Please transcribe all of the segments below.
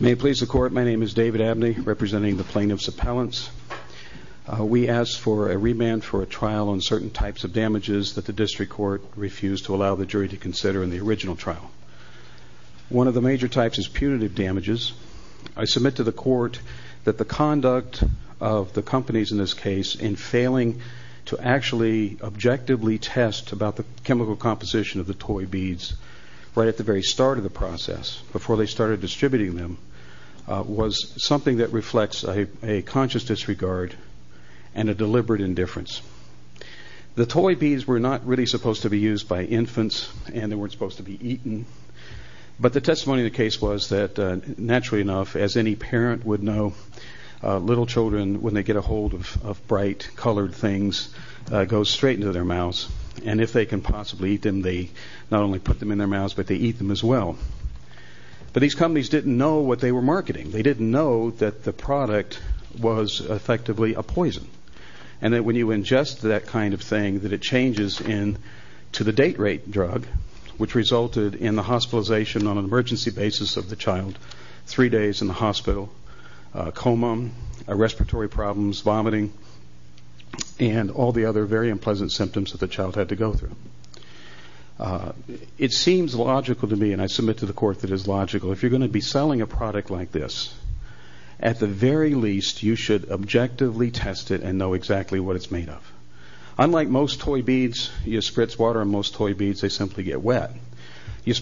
May it please the court, my name is David Abney, representing the plaintiffs' appellants. We ask for a remand for a trial on certain types of damages that the district court refused to allow the jury to consider in the original trial. One of the major types is punitive damages. I submit to the court that the conduct of the companies in this case in failing to actually objectively test about the chemical composition of the toy beads right at the very start of the process, before they started distributing them, was something that reflects a conscious disregard and a deliberate indifference. The toy beads were not really supposed to be used by infants, and they weren't supposed to be eaten. But the testimony of the case was that, naturally enough, as any parent would know, little children, when they get a hold of bright colored things, go straight into their mouths. And if they can possibly eat them, they not only put them in their mouths, but they eat them as well. But these companies didn't know what they were marketing. They didn't know that the product was effectively a poison, and that when you ingest that kind of thing, that it changes into the date rate drug, which resulted in the hospitalization on an emergency basis of the child, three days in the hospital, coma, respiratory problems, vomiting, and all the other very unpleasant symptoms that the child had to go through. It seems logical to me, and I submit to the court that it is logical, if you're going to be selling a product like this, at the very least, you should objectively test it and know exactly what it's made of. Unlike most toy beads, you spritz water on most toy beads, they simply get wet. You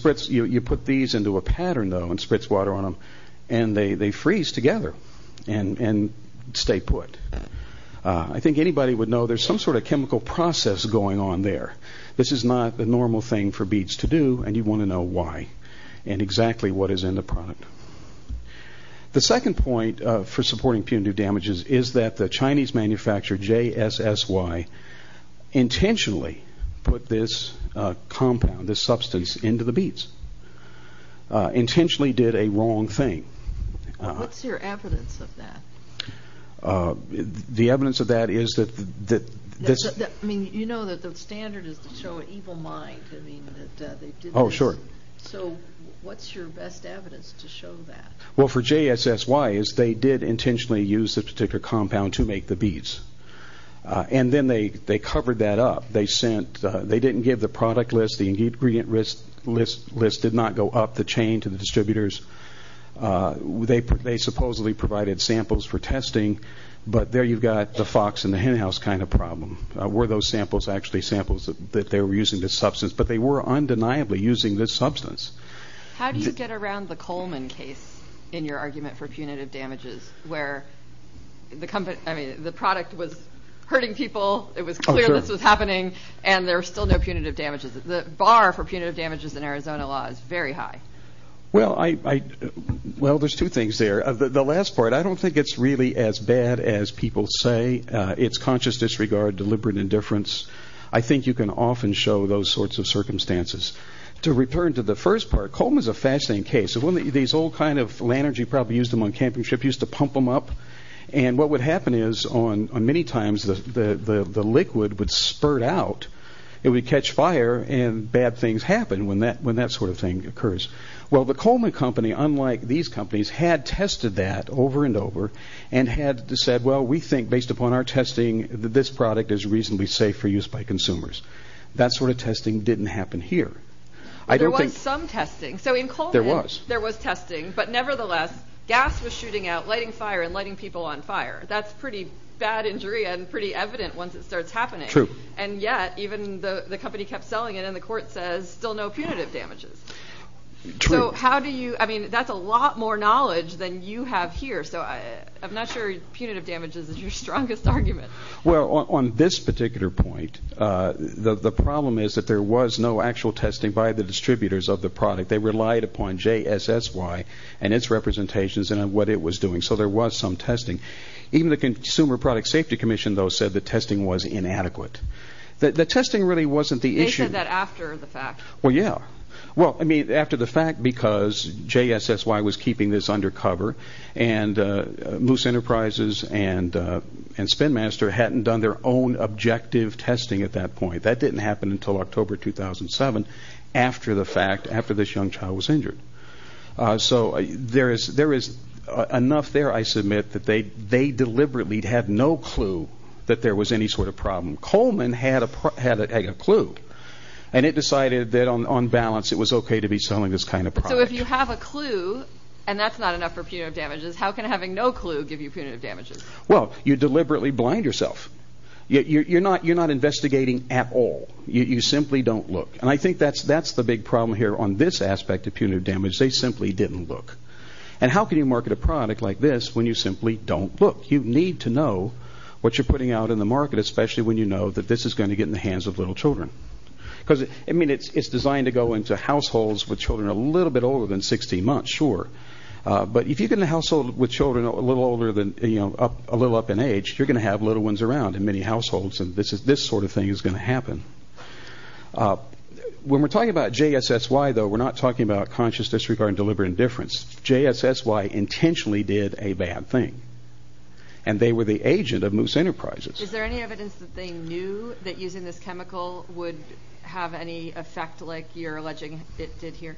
put these into a pattern, though, and spritz water on them, and they freeze together and stay put. I think anybody would know there's some sort of chemical process going on there. This is not the normal thing for beads to do, and you want to know why and exactly what is in the product. The second point for supporting punitive damages is that the Chinese manufacturer, JSSY, intentionally put this compound, this substance, into the beads. Intentionally did a wrong thing. What's your evidence of that? The evidence of that is that... You know that the standard is to show an evil mind. Oh, sure. So, what's your best evidence to show that? Well, for JSSY, they did intentionally use a particular compound to make the beads. And then they covered that up. They didn't give the product list. The ingredient list did not go up the chain to the distributors. They supposedly provided samples for testing, but there you've got the fox in the henhouse kind of problem. Were those samples actually samples that they were using this substance? But they were undeniably using this substance. How do you get around the Coleman case in your argument for punitive damages, where the product was hurting people, it was clear this was happening, and there's still no punitive damages? The bar for punitive damages in Arizona law is very high. Well, there's two things there. The last part, I don't think it's really as bad as people say. It's conscious disregard, deliberate indifference. I think you can often show those sorts of circumstances. To return to the first part, Coleman is a fascinating case. These old kind of lanterns, you probably used them on camping trips, you used to pump them up. And what would happen is many times the liquid would spurt out, it would catch fire, and bad things happen when that sort of thing occurs. Well, the Coleman company, unlike these companies, had tested that over and over and had said, well, we think based upon our testing that this product is reasonably safe for use by consumers. That sort of testing didn't happen here. There was some testing. So in Coleman there was testing, but nevertheless, gas was shooting out, lighting fire and lighting people on fire. That's pretty bad injury and pretty evident once it starts happening. True. And yet even the company kept selling it, and the court says still no punitive damages. True. So how do you, I mean, that's a lot more knowledge than you have here. So I'm not sure punitive damages is your strongest argument. Well, on this particular point, the problem is that there was no actual testing by the distributors of the product. They relied upon JSSY and its representations and what it was doing. So there was some testing. Even the Consumer Product Safety Commission, though, said the testing was inadequate. The testing really wasn't the issue. They said that after the fact. Well, yeah. Well, I mean, after the fact because JSSY was keeping this undercover, and Moose Enterprises and Spinmaster hadn't done their own objective testing at that point. That didn't happen until October 2007 after the fact, after this young child was injured. So there is enough there, I submit, that they deliberately had no clue that there was any sort of problem. Coleman had a clue, and it decided that on balance it was okay to be selling this kind of product. So if you have a clue and that's not enough for punitive damages, how can having no clue give you punitive damages? Well, you deliberately blind yourself. You're not investigating at all. You simply don't look. And I think that's the big problem here on this aspect of punitive damage. They simply didn't look. And how can you market a product like this when you simply don't look? You need to know what you're putting out in the market, especially when you know that this is going to get in the hands of little children. Because, I mean, it's designed to go into households with children a little bit older than 16 months, sure. But if you get in a household with children a little older than, you know, a little up in age, you're going to have little ones around in many households, and this sort of thing is going to happen. When we're talking about JSSY, though, we're not talking about conscious disregard and deliberate indifference. JSSY intentionally did a bad thing, and they were the agent of Moose Enterprises. Is there any evidence that they knew that using this chemical would have any effect like you're alleging it did here?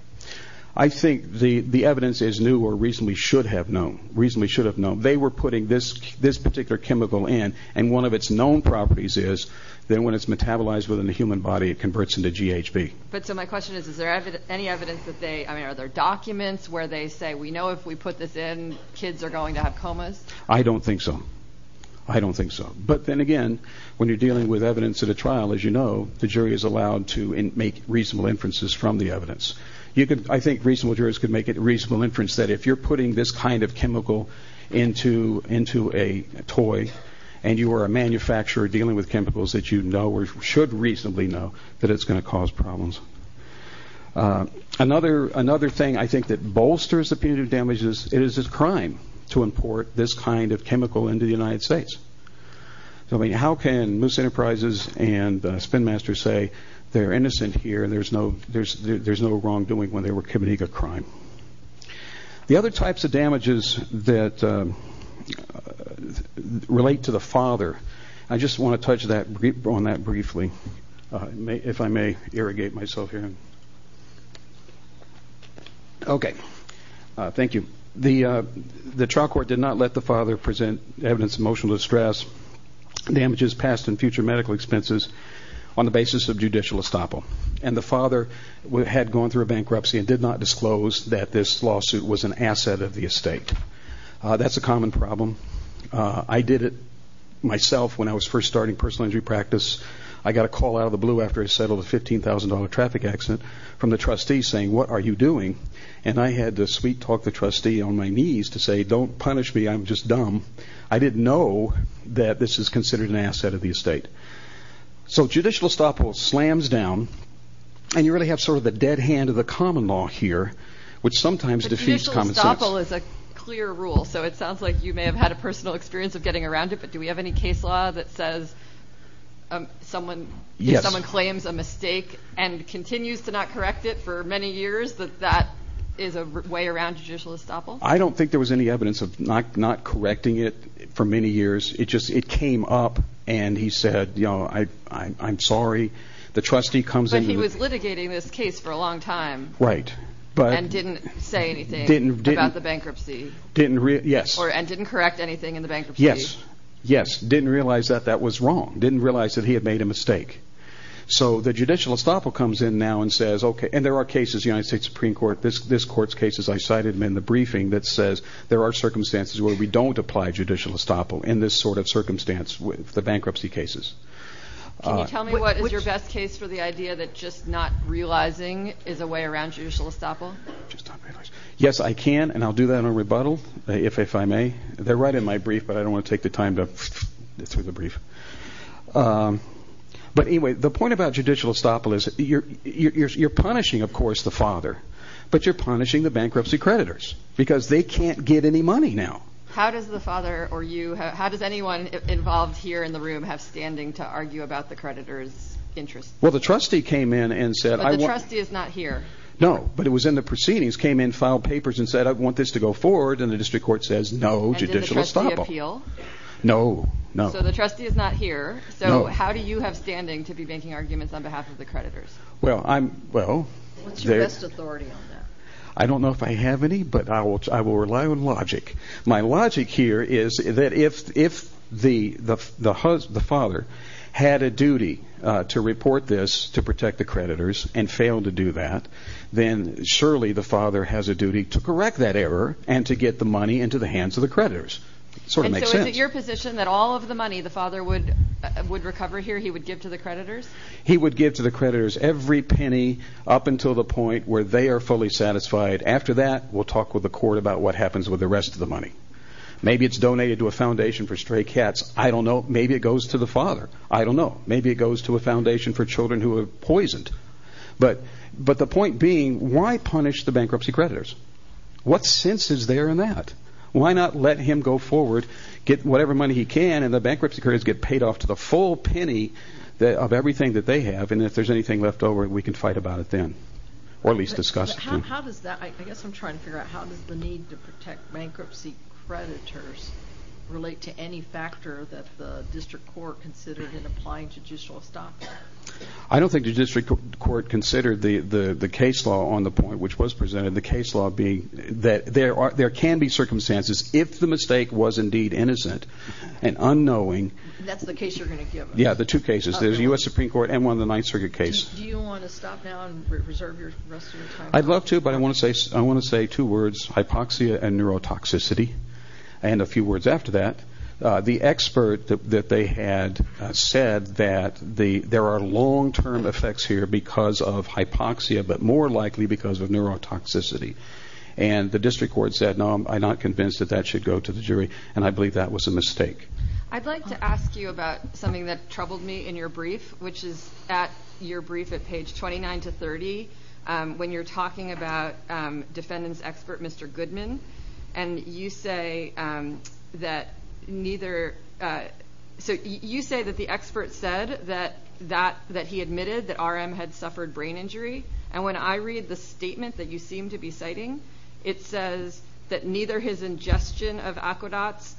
I think the evidence is new or reasonably should have known, reasonably should have known. They were putting this particular chemical in, and one of its known properties is that when it's metabolized within the human body, it converts into GHB. But so my question is, is there any evidence that they, I mean, are there documents where they say, we know if we put this in, kids are going to have comas? I don't think so. I don't think so. But then again, when you're dealing with evidence at a trial, as you know, the jury is allowed to make reasonable inferences from the evidence. I think reasonable jurors could make a reasonable inference that if you're putting this kind of chemical into a toy, and you are a manufacturer dealing with chemicals that you know or should reasonably know, that it's going to cause problems. Another thing I think that bolsters the punitive damages, it is a crime to import this kind of chemical into the United States. I mean, how can Moose Enterprises and Spin Master say they're innocent here, there's no wrongdoing when they were committing a crime? The other types of damages that relate to the father, I just want to touch on that briefly, if I may irrigate myself here. Okay. Thank you. The trial court did not let the father present evidence of emotional distress, damages passed in future medical expenses on the basis of judicial estoppel. And the father had gone through a bankruptcy and did not disclose that this lawsuit was an asset of the estate. That's a common problem. I did it myself when I was first starting personal injury practice. I got a call out of the blue after I settled a $15,000 traffic accident from the trustee saying, what are you doing? And I had to sweet-talk the trustee on my knees to say, don't punish me, I'm just dumb. I didn't know that this is considered an asset of the estate. So judicial estoppel slams down, and you really have sort of the dead hand of the common law here, which sometimes defeats common sense. But judicial estoppel is a clear rule, so it sounds like you may have had a personal experience of getting around it, but do we have any case law that says if someone claims a mistake and continues to not correct it for many years, that that is a way around judicial estoppel? I don't think there was any evidence of not correcting it for many years. It just came up, and he said, I'm sorry. But he was litigating this case for a long time and didn't say anything about the bankruptcy. And didn't correct anything in the bankruptcy. Yes. Yes. Didn't realize that that was wrong. Didn't realize that he had made a mistake. So the judicial estoppel comes in now and says, okay, and there are cases, the United States Supreme Court, this court's cases, I cited them in the briefing, that says there are circumstances where we don't apply judicial estoppel in this sort of circumstance with the bankruptcy cases. Can you tell me what is your best case for the idea that just not realizing is a way around judicial estoppel? Just not realizing. Yes, I can, and I'll do that in a rebuttal, if I may. They're right in my brief, but I don't want to take the time to go through the brief. But anyway, the point about judicial estoppel is you're punishing, of course, the father, but you're punishing the bankruptcy creditors because they can't get any money now. How does the father or you, how does anyone involved here in the room have standing to argue about the creditor's interests? Well, the trustee came in and said I want – But the trustee is not here. No, but it was in the proceedings, came in, filed papers and said I want this to go forward, and the district court says no, judicial estoppel. And did the trustee appeal? No, no. So the trustee is not here. No. So how do you have standing to be making arguments on behalf of the creditors? Well, I'm – well – What's your best authority on that? I don't know if I have any, but I will rely on logic. My logic here is that if the father had a duty to report this to protect the creditors and failed to do that, then surely the father has a duty to correct that error and to get the money into the hands of the creditors. Sort of makes sense. And so is it your position that all of the money the father would recover here he would give to the creditors? He would give to the creditors every penny up until the point where they are fully satisfied. After that, we'll talk with the court about what happens with the rest of the money. Maybe it's donated to a foundation for stray cats. I don't know. Maybe it goes to the father. I don't know. Maybe it goes to a foundation for children who are poisoned. But the point being, why punish the bankruptcy creditors? What sense is there in that? Why not let him go forward, get whatever money he can, and the bankruptcy creditors get paid off to the full penny of everything that they have, and if there's anything left over, we can fight about it then. Or at least discuss it. How does that – I guess I'm trying to figure out – how does the need to protect bankruptcy creditors relate to any factor that the district court considered in applying judicial stop? I don't think the district court considered the case law on the point, which was presented, the case law being that there can be circumstances, if the mistake was indeed innocent and unknowing. That's the case you're going to give us. Yeah, the two cases, the U.S. Supreme Court and one of the Ninth Circuit cases. Do you want to stop now and reserve the rest of your time? I'd love to, but I want to say two words, hypoxia and neurotoxicity, and a few words after that. The expert that they had said that there are long-term effects here because of hypoxia, but more likely because of neurotoxicity. And the district court said, no, I'm not convinced that that should go to the jury, and I believe that was a mistake. I'd like to ask you about something that troubled me in your brief, which is at your brief at page 29 to 30, when you're talking about defendant's expert, Mr. Goodman, and you say that the expert said that he admitted that R.M. had suffered brain injury, and when I read the statement that you seem to be citing, it says that neither his ingestion of Aquedots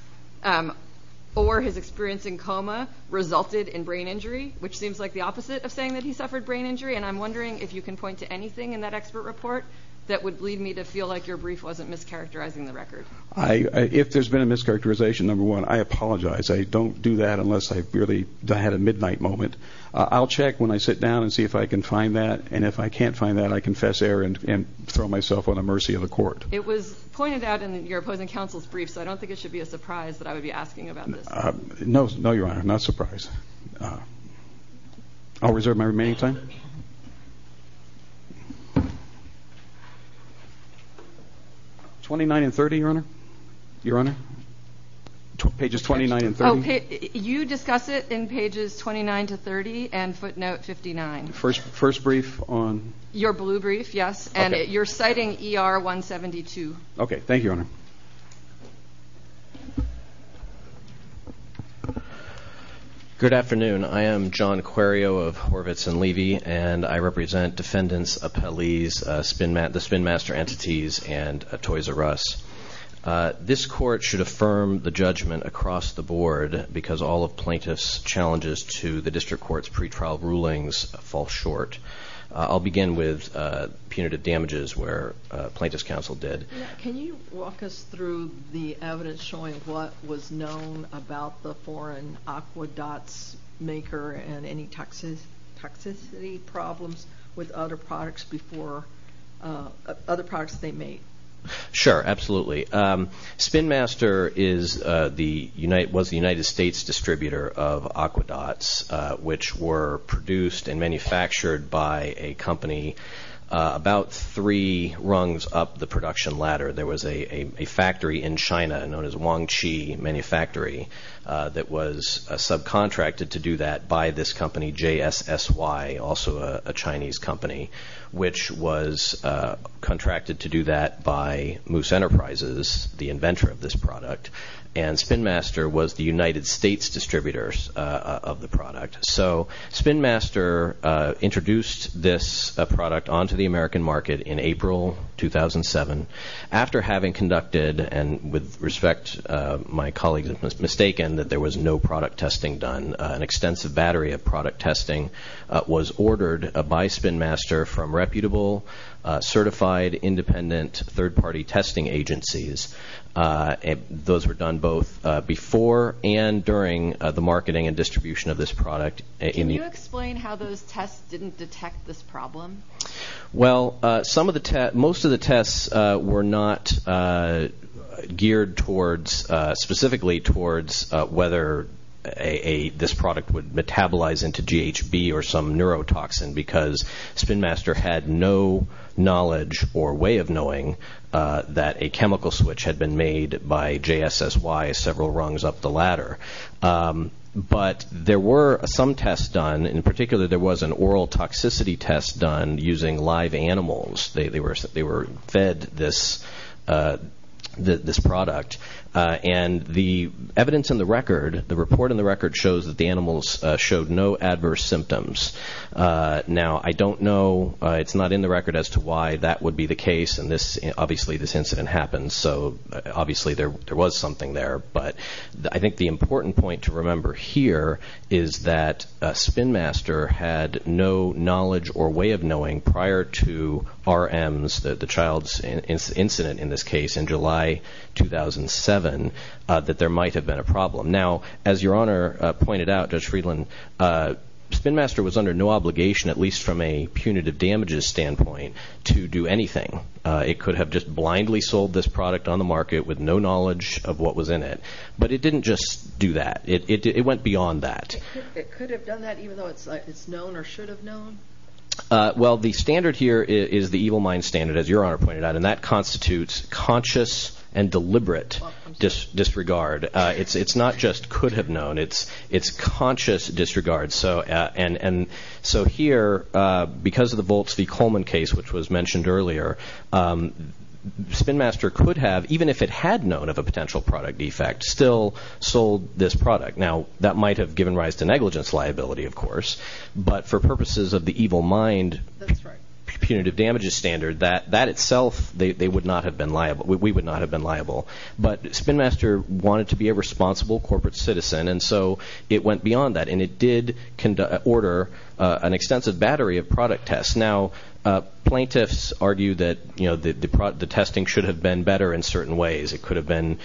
or his experience in coma resulted in brain injury, which seems like the opposite of saying that he suffered brain injury, and I'm wondering if you can point to anything in that expert report that would lead me to feel like your brief wasn't mischaracterizing the record. If there's been a mischaracterization, number one, I apologize. I don't do that unless I really had a midnight moment. I'll check when I sit down and see if I can find that, and if I can't find that, I confess error and throw myself on the mercy of the court. It was pointed out in your opposing counsel's brief, so I don't think it should be a surprise that I would be asking about this. No, Your Honor, not a surprise. I'll reserve my remaining time. 29 and 30, Your Honor? Your Honor? Pages 29 and 30? Oh, you discuss it in pages 29 to 30 and footnote 59. First brief on? Your blue brief, yes, and you're citing ER 172. Okay, thank you, Your Honor. Good afternoon. I am John Querio of Horvitz & Levy, and I represent defendants, appellees, the spinmaster entities, and Toys R Us. This court should affirm the judgment across the board because all of plaintiff's challenges to the district court's pretrial rulings fall short. I'll begin with punitive damages where plaintiff's counsel did. Can you walk us through the evidence showing what was known about the foreign Aquedots maker and any toxicity problems with other products they made? Sure, absolutely. Spinmaster was the United States distributor of Aquedots, which were produced and manufactured by a company about three rungs up the production ladder. There was a factory in China known as Wangqi Manufactory that was subcontracted to do that by this company, JSSY, also a Chinese company, which was contracted to do that by Moose Enterprises, the inventor of this product, and Spinmaster was the United States distributors of the product. So Spinmaster introduced this product onto the American market in April 2007. After having conducted, and with respect my colleagues have mistaken, that there was no product testing done, an extensive battery of product testing was ordered by Spinmaster from reputable, certified, independent, third-party testing agencies. Those were done both before and during the marketing and distribution of this product. Can you explain how those tests didn't detect this problem? Well, most of the tests were not geared specifically towards whether this product would metabolize into GHB or some neurotoxin, because Spinmaster had no knowledge or way of knowing that a chemical switch had been made by JSSY several rungs up the ladder. But there were some tests done. In particular, there was an oral toxicity test done using live animals. They were fed this product, and the evidence in the record, shows that the animals showed no adverse symptoms. Now, I don't know, it's not in the record as to why that would be the case, and obviously this incident happened, so obviously there was something there. But I think the important point to remember here is that Spinmaster had no knowledge or way of knowing prior to RMs, the child's incident in this case, in July 2007, that there might have been a problem. Now, as Your Honor pointed out, Judge Friedland, Spinmaster was under no obligation, at least from a punitive damages standpoint, to do anything. It could have just blindly sold this product on the market with no knowledge of what was in it. But it didn't just do that. It went beyond that. It could have done that even though it's known or should have known? Well, the standard here is the evil mind standard, as Your Honor pointed out, and that constitutes conscious and deliberate disregard. It's not just could have known. It's conscious disregard. So here, because of the Volts v. Coleman case, which was mentioned earlier, Spinmaster could have, even if it had known of a potential product defect, still sold this product. Now, that might have given rise to negligence liability, of course, but for purposes of the evil mind punitive damages standard, that itself, we would not have been liable. But Spinmaster wanted to be a responsible corporate citizen, and so it went beyond that. And it did order an extensive battery of product tests. Now, plaintiffs argue that the testing should have been better in certain ways. It could have been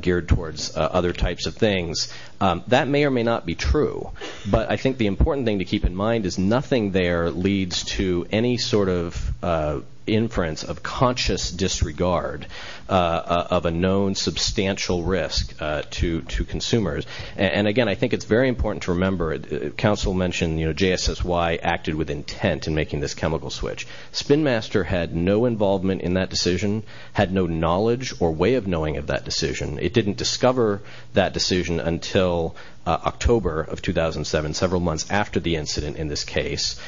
geared towards other types of things. That may or may not be true. But I think the important thing to keep in mind is nothing there leads to any sort of inference of conscious disregard of a known substantial risk to consumers. And, again, I think it's very important to remember, counsel mentioned JSSY acted with intent in making this chemical switch. Spinmaster had no involvement in that decision, had no knowledge or way of knowing of that decision. It didn't discover that decision until October of 2007, several months after the incident in this case,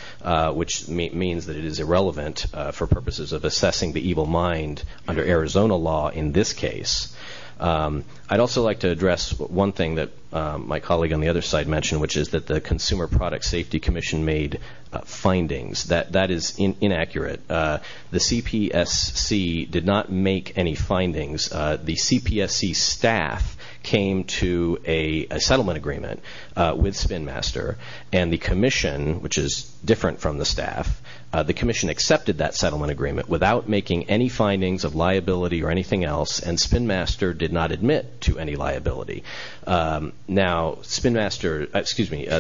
which means that it is irrelevant for purposes of assessing the evil mind under Arizona law in this case. I'd also like to address one thing that my colleague on the other side mentioned, which is that the Consumer Product Safety Commission made findings. That is inaccurate. The CPSC did not make any findings. The CPSC staff came to a settlement agreement with Spinmaster, and the commission, which is different from the staff, the commission accepted that settlement agreement without making any findings of liability or anything else, and Spinmaster did not admit to any liability. Now,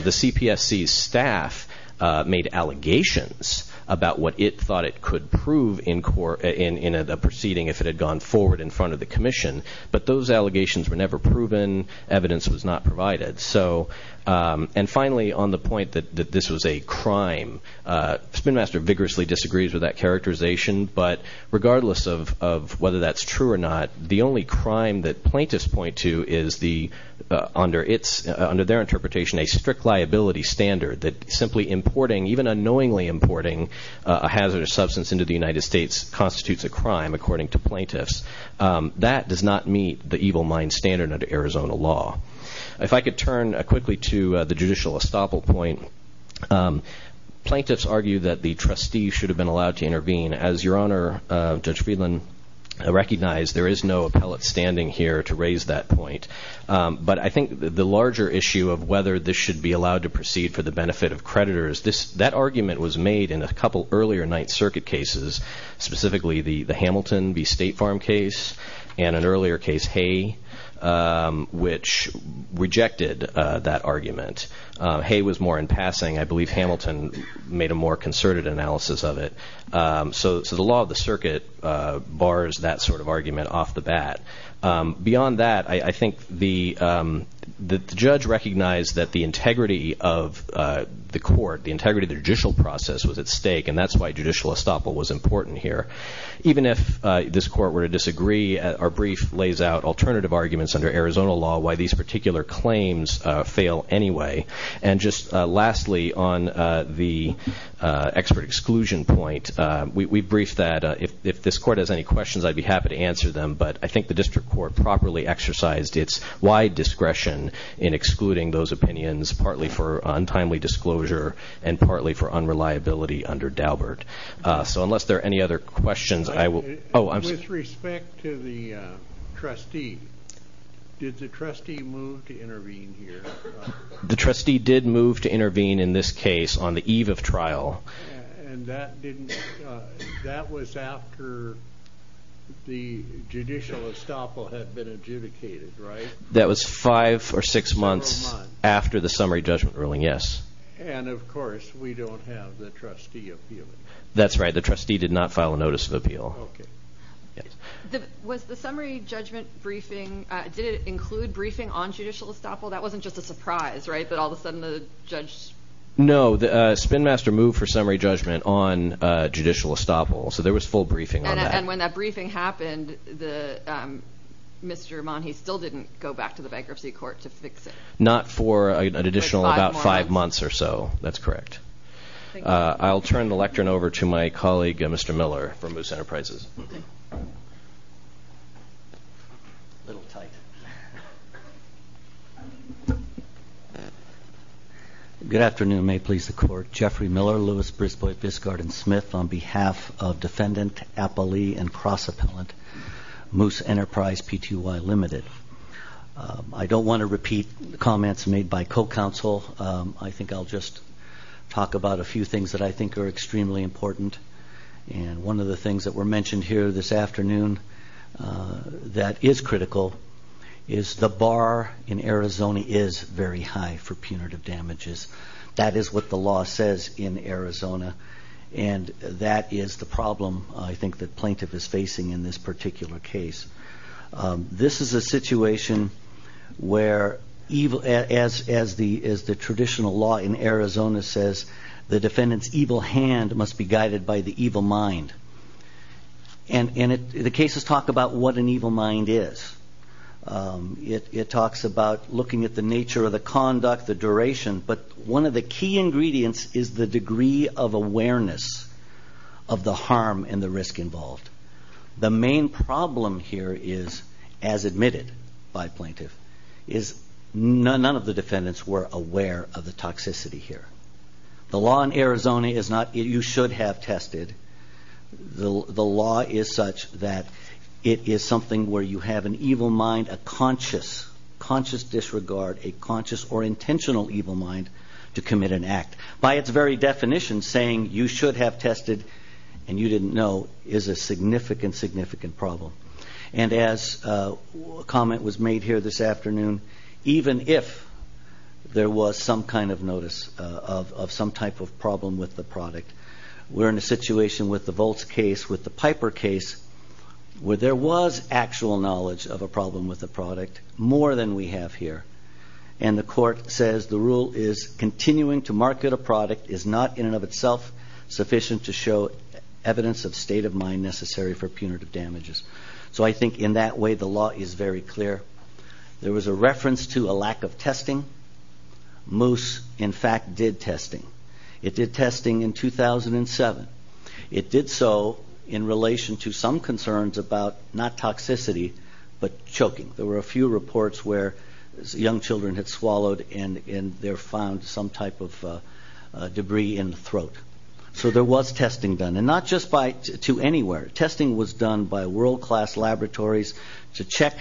the CPSC staff made allegations about what it thought it could prove in a proceeding if it had gone forward in front of the commission. But those allegations were never proven. Evidence was not provided. And finally, on the point that this was a crime, Spinmaster vigorously disagrees with that characterization, but regardless of whether that's true or not, the only crime that plaintiffs point to is, under their interpretation, a strict liability standard that simply importing, even unknowingly importing, a hazardous substance into the United States constitutes a crime, according to plaintiffs. That does not meet the evil mind standard under Arizona law. If I could turn quickly to the judicial estoppel point, plaintiffs argue that the trustee should have been allowed to intervene. As your Honor, Judge Friedland, recognized, there is no appellate standing here to raise that point. But I think the larger issue of whether this should be allowed to proceed for the benefit of creditors, that argument was made in a couple earlier Ninth Circuit cases, specifically the Hamilton v. State Farm case, and an earlier case, Hay, which rejected that argument. Hay was more in passing. I believe Hamilton made a more concerted analysis of it. So the law of the circuit bars that sort of argument off the bat. Beyond that, I think the judge recognized that the integrity of the court, the integrity of the judicial process was at stake, and that's why judicial estoppel was important here. Even if this court were to disagree, our brief lays out alternative arguments under Arizona law why these particular claims fail anyway. And just lastly, on the expert exclusion point, we briefed that if this court has any questions, I'd be happy to answer them. But I think the district court properly exercised its wide discretion in excluding those opinions, partly for untimely disclosure and partly for unreliability under Daubert. So unless there are any other questions, I will... With respect to the trustee, did the trustee move to intervene here? The trustee did move to intervene in this case on the eve of trial. And that was after the judicial estoppel had been adjudicated, right? That was five or six months after the summary judgment ruling, yes. And, of course, we don't have the trustee appeal it. That's right. The trustee did not file a notice of appeal. Okay. Was the summary judgment briefing, did it include briefing on judicial estoppel? That wasn't just a surprise, right, that all of a sudden the judge... No, Spinmaster moved for summary judgment on judicial estoppel, so there was full briefing on that. And when that briefing happened, Mr. Monhe still didn't go back to the bankruptcy court to fix it? Not for an additional about five months or so. That's correct. I'll turn the lectern over to my colleague, Mr. Miller, from Moose Enterprises. A little tight. Good afternoon. May it please the Court. Jeffrey Miller, Louis Brisbois, Biscard, and Smith on behalf of Defendant Appali and Cross Appellant, Moose Enterprise Pty. Ltd. I don't want to repeat comments made by co-counsel. I think I'll just talk about a few things that I think are extremely important. And one of the things that were mentioned here this afternoon that is critical is the bar in Arizona is very high for punitive damages. That is what the law says in Arizona, and that is the problem I think the plaintiff is facing in this particular case. This is a situation where, as the traditional law in Arizona says, the defendant's evil hand must be guided by the evil mind. And the cases talk about what an evil mind is. It talks about looking at the nature of the conduct, the duration. But one of the key ingredients is the degree of awareness of the harm and the risk involved. The main problem here is, as admitted by plaintiff, is none of the defendants were aware of the toxicity here. The law in Arizona is not you should have tested. The law is such that it is something where you have an evil mind, a conscious disregard, a conscious or intentional evil mind to commit an act. By its very definition, saying you should have tested and you didn't know is a significant, significant problem. And as a comment was made here this afternoon, even if there was some kind of notice of some type of problem with the product, we're in a situation with the Volts case, with the Piper case, where there was actual knowledge of a problem with the product, more than we have here. And the court says the rule is continuing to market a product is not in and of itself sufficient to show evidence of state of mind necessary for punitive damages. So I think in that way the law is very clear. There was a reference to a lack of testing. Moose, in fact, did testing. It did testing in 2007. It did so in relation to some concerns about not toxicity but choking. There were a few reports where young children had swallowed and they found some type of debris in the throat. So there was testing done. And not just to anywhere. Testing was done by world-class laboratories to check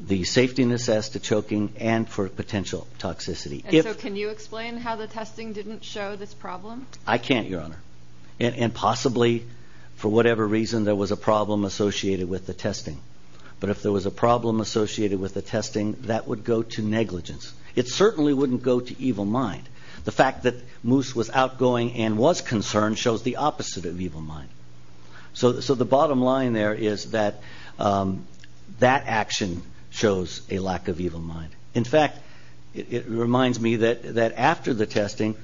the safetiness as to choking and for potential toxicity. So can you explain how the testing didn't show this problem? I can't, Your Honor. But if there was a problem associated with the testing, that would go to negligence. It certainly wouldn't go to evil mind. The fact that Moose was outgoing and was concerned shows the opposite of evil mind. So the bottom line there is that that action shows a lack of evil mind. In fact, it reminds me that after the testing,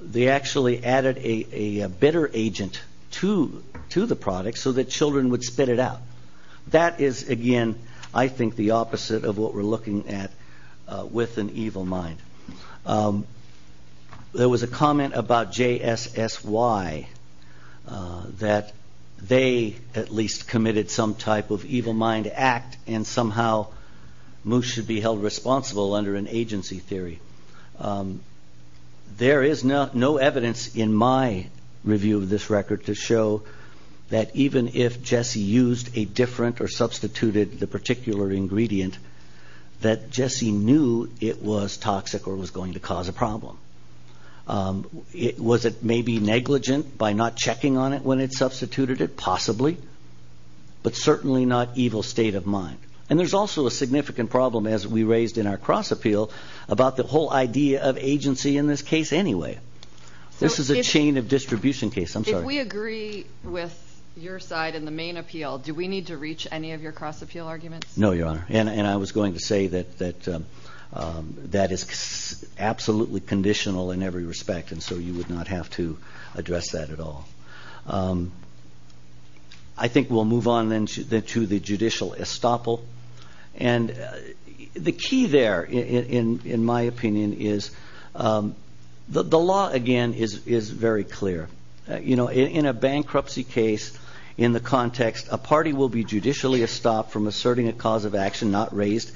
they actually added a bitter agent to the product so that children would spit it out. That is, again, I think the opposite of what we're looking at with an evil mind. There was a comment about JSSY that they at least committed some type of evil mind act and somehow Moose should be held responsible under an agency theory. There is no evidence in my review of this record to show that even if JSSY used a different or substituted the particular ingredient, that JSSY knew it was toxic or was going to cause a problem. Was it maybe negligent by not checking on it when it substituted it? Possibly. But certainly not evil state of mind. And there's also a significant problem, as we raised in our cross-appeal, about the whole idea of agency in this case anyway. This is a chain of distribution case. I'm sorry. If we agree with your side in the main appeal, do we need to reach any of your cross-appeal arguments? No, Your Honor, and I was going to say that that is absolutely conditional in every respect, and so you would not have to address that at all. I think we'll move on then to the judicial estoppel. And the key there, in my opinion, is the law, again, is very clear. In a bankruptcy case, in the context, a party will be judicially estopped from asserting a cause of action not raised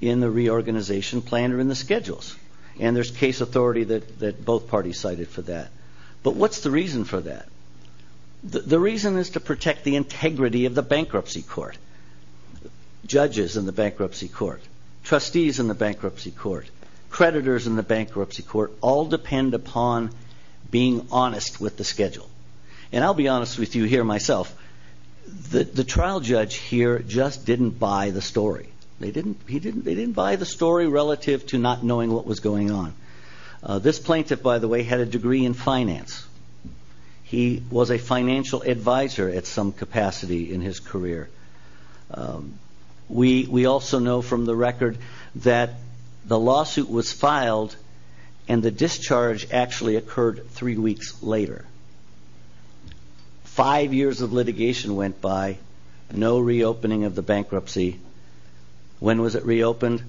in the reorganization plan or in the schedules. And there's case authority that both parties cited for that. But what's the reason for that? The reason is to protect the integrity of the bankruptcy court. Judges in the bankruptcy court, trustees in the bankruptcy court, creditors in the bankruptcy court all depend upon being honest with the schedule. And I'll be honest with you here myself. The trial judge here just didn't buy the story. They didn't buy the story relative to not knowing what was going on. This plaintiff, by the way, had a degree in finance. He was a financial advisor at some capacity in his career. We also know from the record that the lawsuit was filed and the discharge actually occurred three weeks later. Five years of litigation went by, no reopening of the bankruptcy. When was it reopened?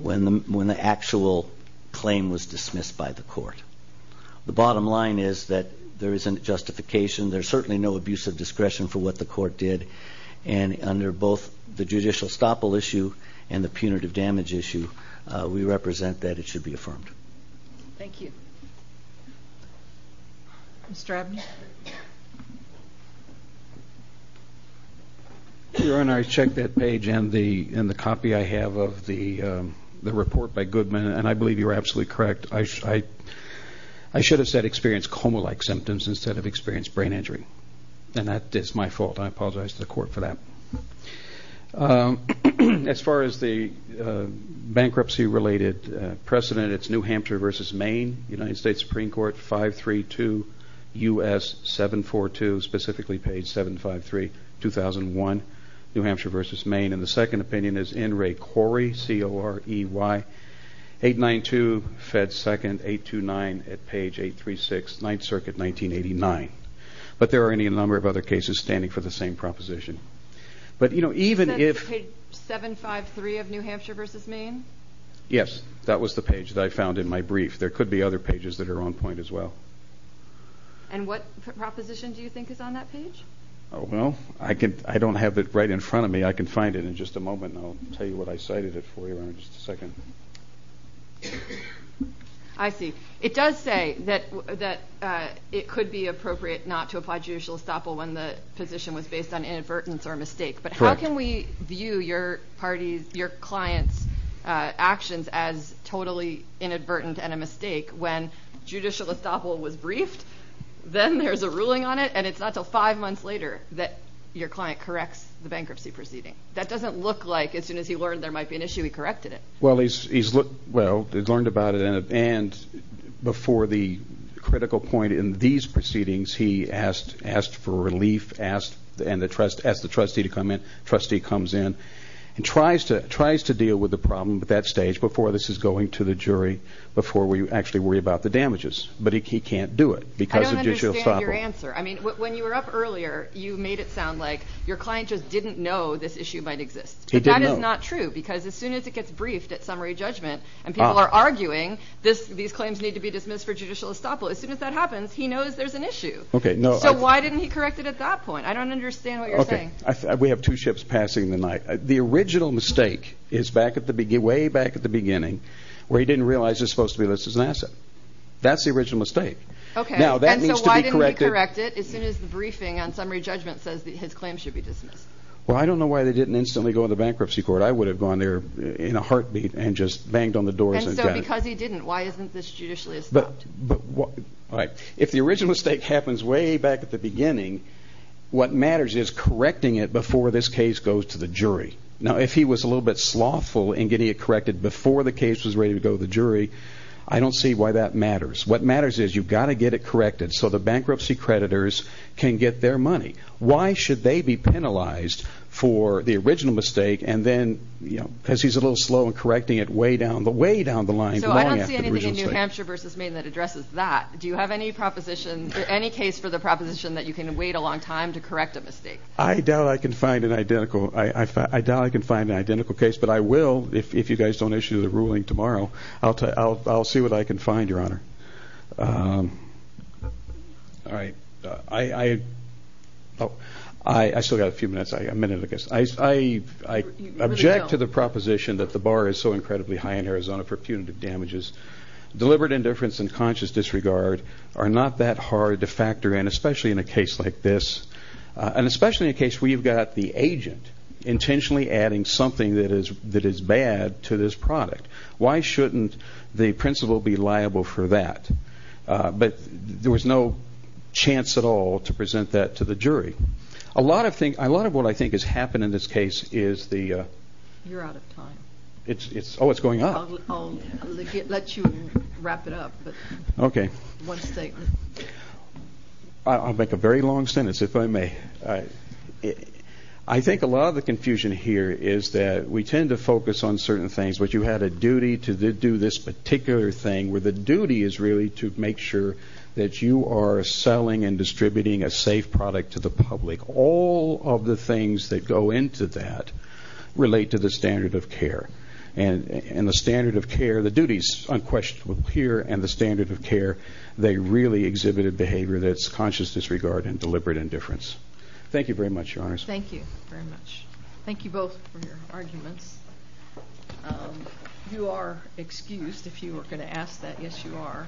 When the actual claim was dismissed by the court. The bottom line is that there isn't justification. There's certainly no abuse of discretion for what the court did. And under both the judicial estoppel issue and the punitive damage issue, we represent that it should be affirmed. Thank you. Mr. Abney? Your Honor, I checked that page in the copy I have of the report by Goodman, and I believe you were absolutely correct. I should have said experienced coma-like symptoms instead of experienced brain injury, and that is my fault. I apologize to the court for that. As far as the bankruptcy-related precedent, it's New Hampshire v. Maine, United States Supreme Court, 532 U.S. 742, specifically page 753, 2001, New Hampshire v. Maine. And the second opinion is N. Ray Corey, C-O-R-E-Y, 892 Fed 2nd, 829 at page 836, 9th Circuit, 1989. But there are any number of other cases standing for the same proposition. You said page 753 of New Hampshire v. Maine? Yes, that was the page that I found in my brief. There could be other pages that are on point as well. And what proposition do you think is on that page? Oh, well, I don't have it right in front of me. I can find it in just a moment, and I'll tell you what I cited it for you in just a second. I see. It does say that it could be appropriate not to apply judicial estoppel when the position was based on inadvertence or mistake. But how can we view your client's actions as totally inadvertent and a mistake when judicial estoppel was briefed, then there's a ruling on it, and it's not until five months later that your client corrects the bankruptcy proceeding? That doesn't look like as soon as he learned there might be an issue, he corrected it. Well, he learned about it, and before the critical point in these proceedings, he asked for relief, asked the trustee to come in. Trustee comes in and tries to deal with the problem at that stage before this is going to the jury, before we actually worry about the damages. But he can't do it because of judicial estoppel. I don't understand your answer. I mean, when you were up earlier, you made it sound like your client just didn't know this issue might exist. He didn't know. That is not true because as soon as it gets briefed at summary judgment and people are arguing these claims need to be dismissed for judicial estoppel, as soon as that happens, he knows there's an issue. So why didn't he correct it at that point? I don't understand what you're saying. We have two ships passing the night. The original mistake is way back at the beginning where he didn't realize it was supposed to be listed as an asset. That's the original mistake. Now, that needs to be corrected. So why didn't he correct it as soon as the briefing on summary judgment says his claims should be dismissed? Well, I don't know why they didn't instantly go to the bankruptcy court. I would have gone there in a heartbeat and just banged on the doors. And so because he didn't, why isn't this judicially estopped? But if the original mistake happens way back at the beginning, what matters is correcting it before this case goes to the jury. Now, if he was a little bit slothful in getting it corrected before the case was ready to go to the jury, I don't see why that matters. What matters is you've got to get it corrected so the bankruptcy creditors can get their money. Why should they be penalized for the original mistake and then, you know, because he's a little slow in correcting it way down the line. So I don't see anything in New Hampshire v. Maine that addresses that. Do you have any proposition, any case for the proposition that you can wait a long time to correct a mistake? I doubt I can find an identical case, but I will if you guys don't issue the ruling tomorrow. I'll see what I can find, Your Honor. All right. I still got a few minutes, a minute, I guess. I object to the proposition that the bar is so incredibly high in Arizona for punitive damages. Deliberate indifference and conscious disregard are not that hard to factor in, especially in a case like this. And especially in a case where you've got the agent intentionally adding something that is bad to this product. Why shouldn't the principal be liable for that? But there was no chance at all to present that to the jury. A lot of what I think has happened in this case is the... You're out of time. Oh, it's going up. I'll let you wrap it up. Okay. One second. I'll make a very long sentence, if I may. I think a lot of the confusion here is that we tend to focus on certain things, but you had a duty to do this particular thing where the duty is really to make sure that you are selling and distributing a safe product to the public. All of the things that go into that relate to the standard of care. And the standard of care, the duties unquestionable here and the standard of care, they really exhibited behavior that's conscious disregard and deliberate indifference. Thank you very much, Your Honors. Thank you very much. Thank you both for your arguments. You are excused, if you were going to ask that. Yes, you are.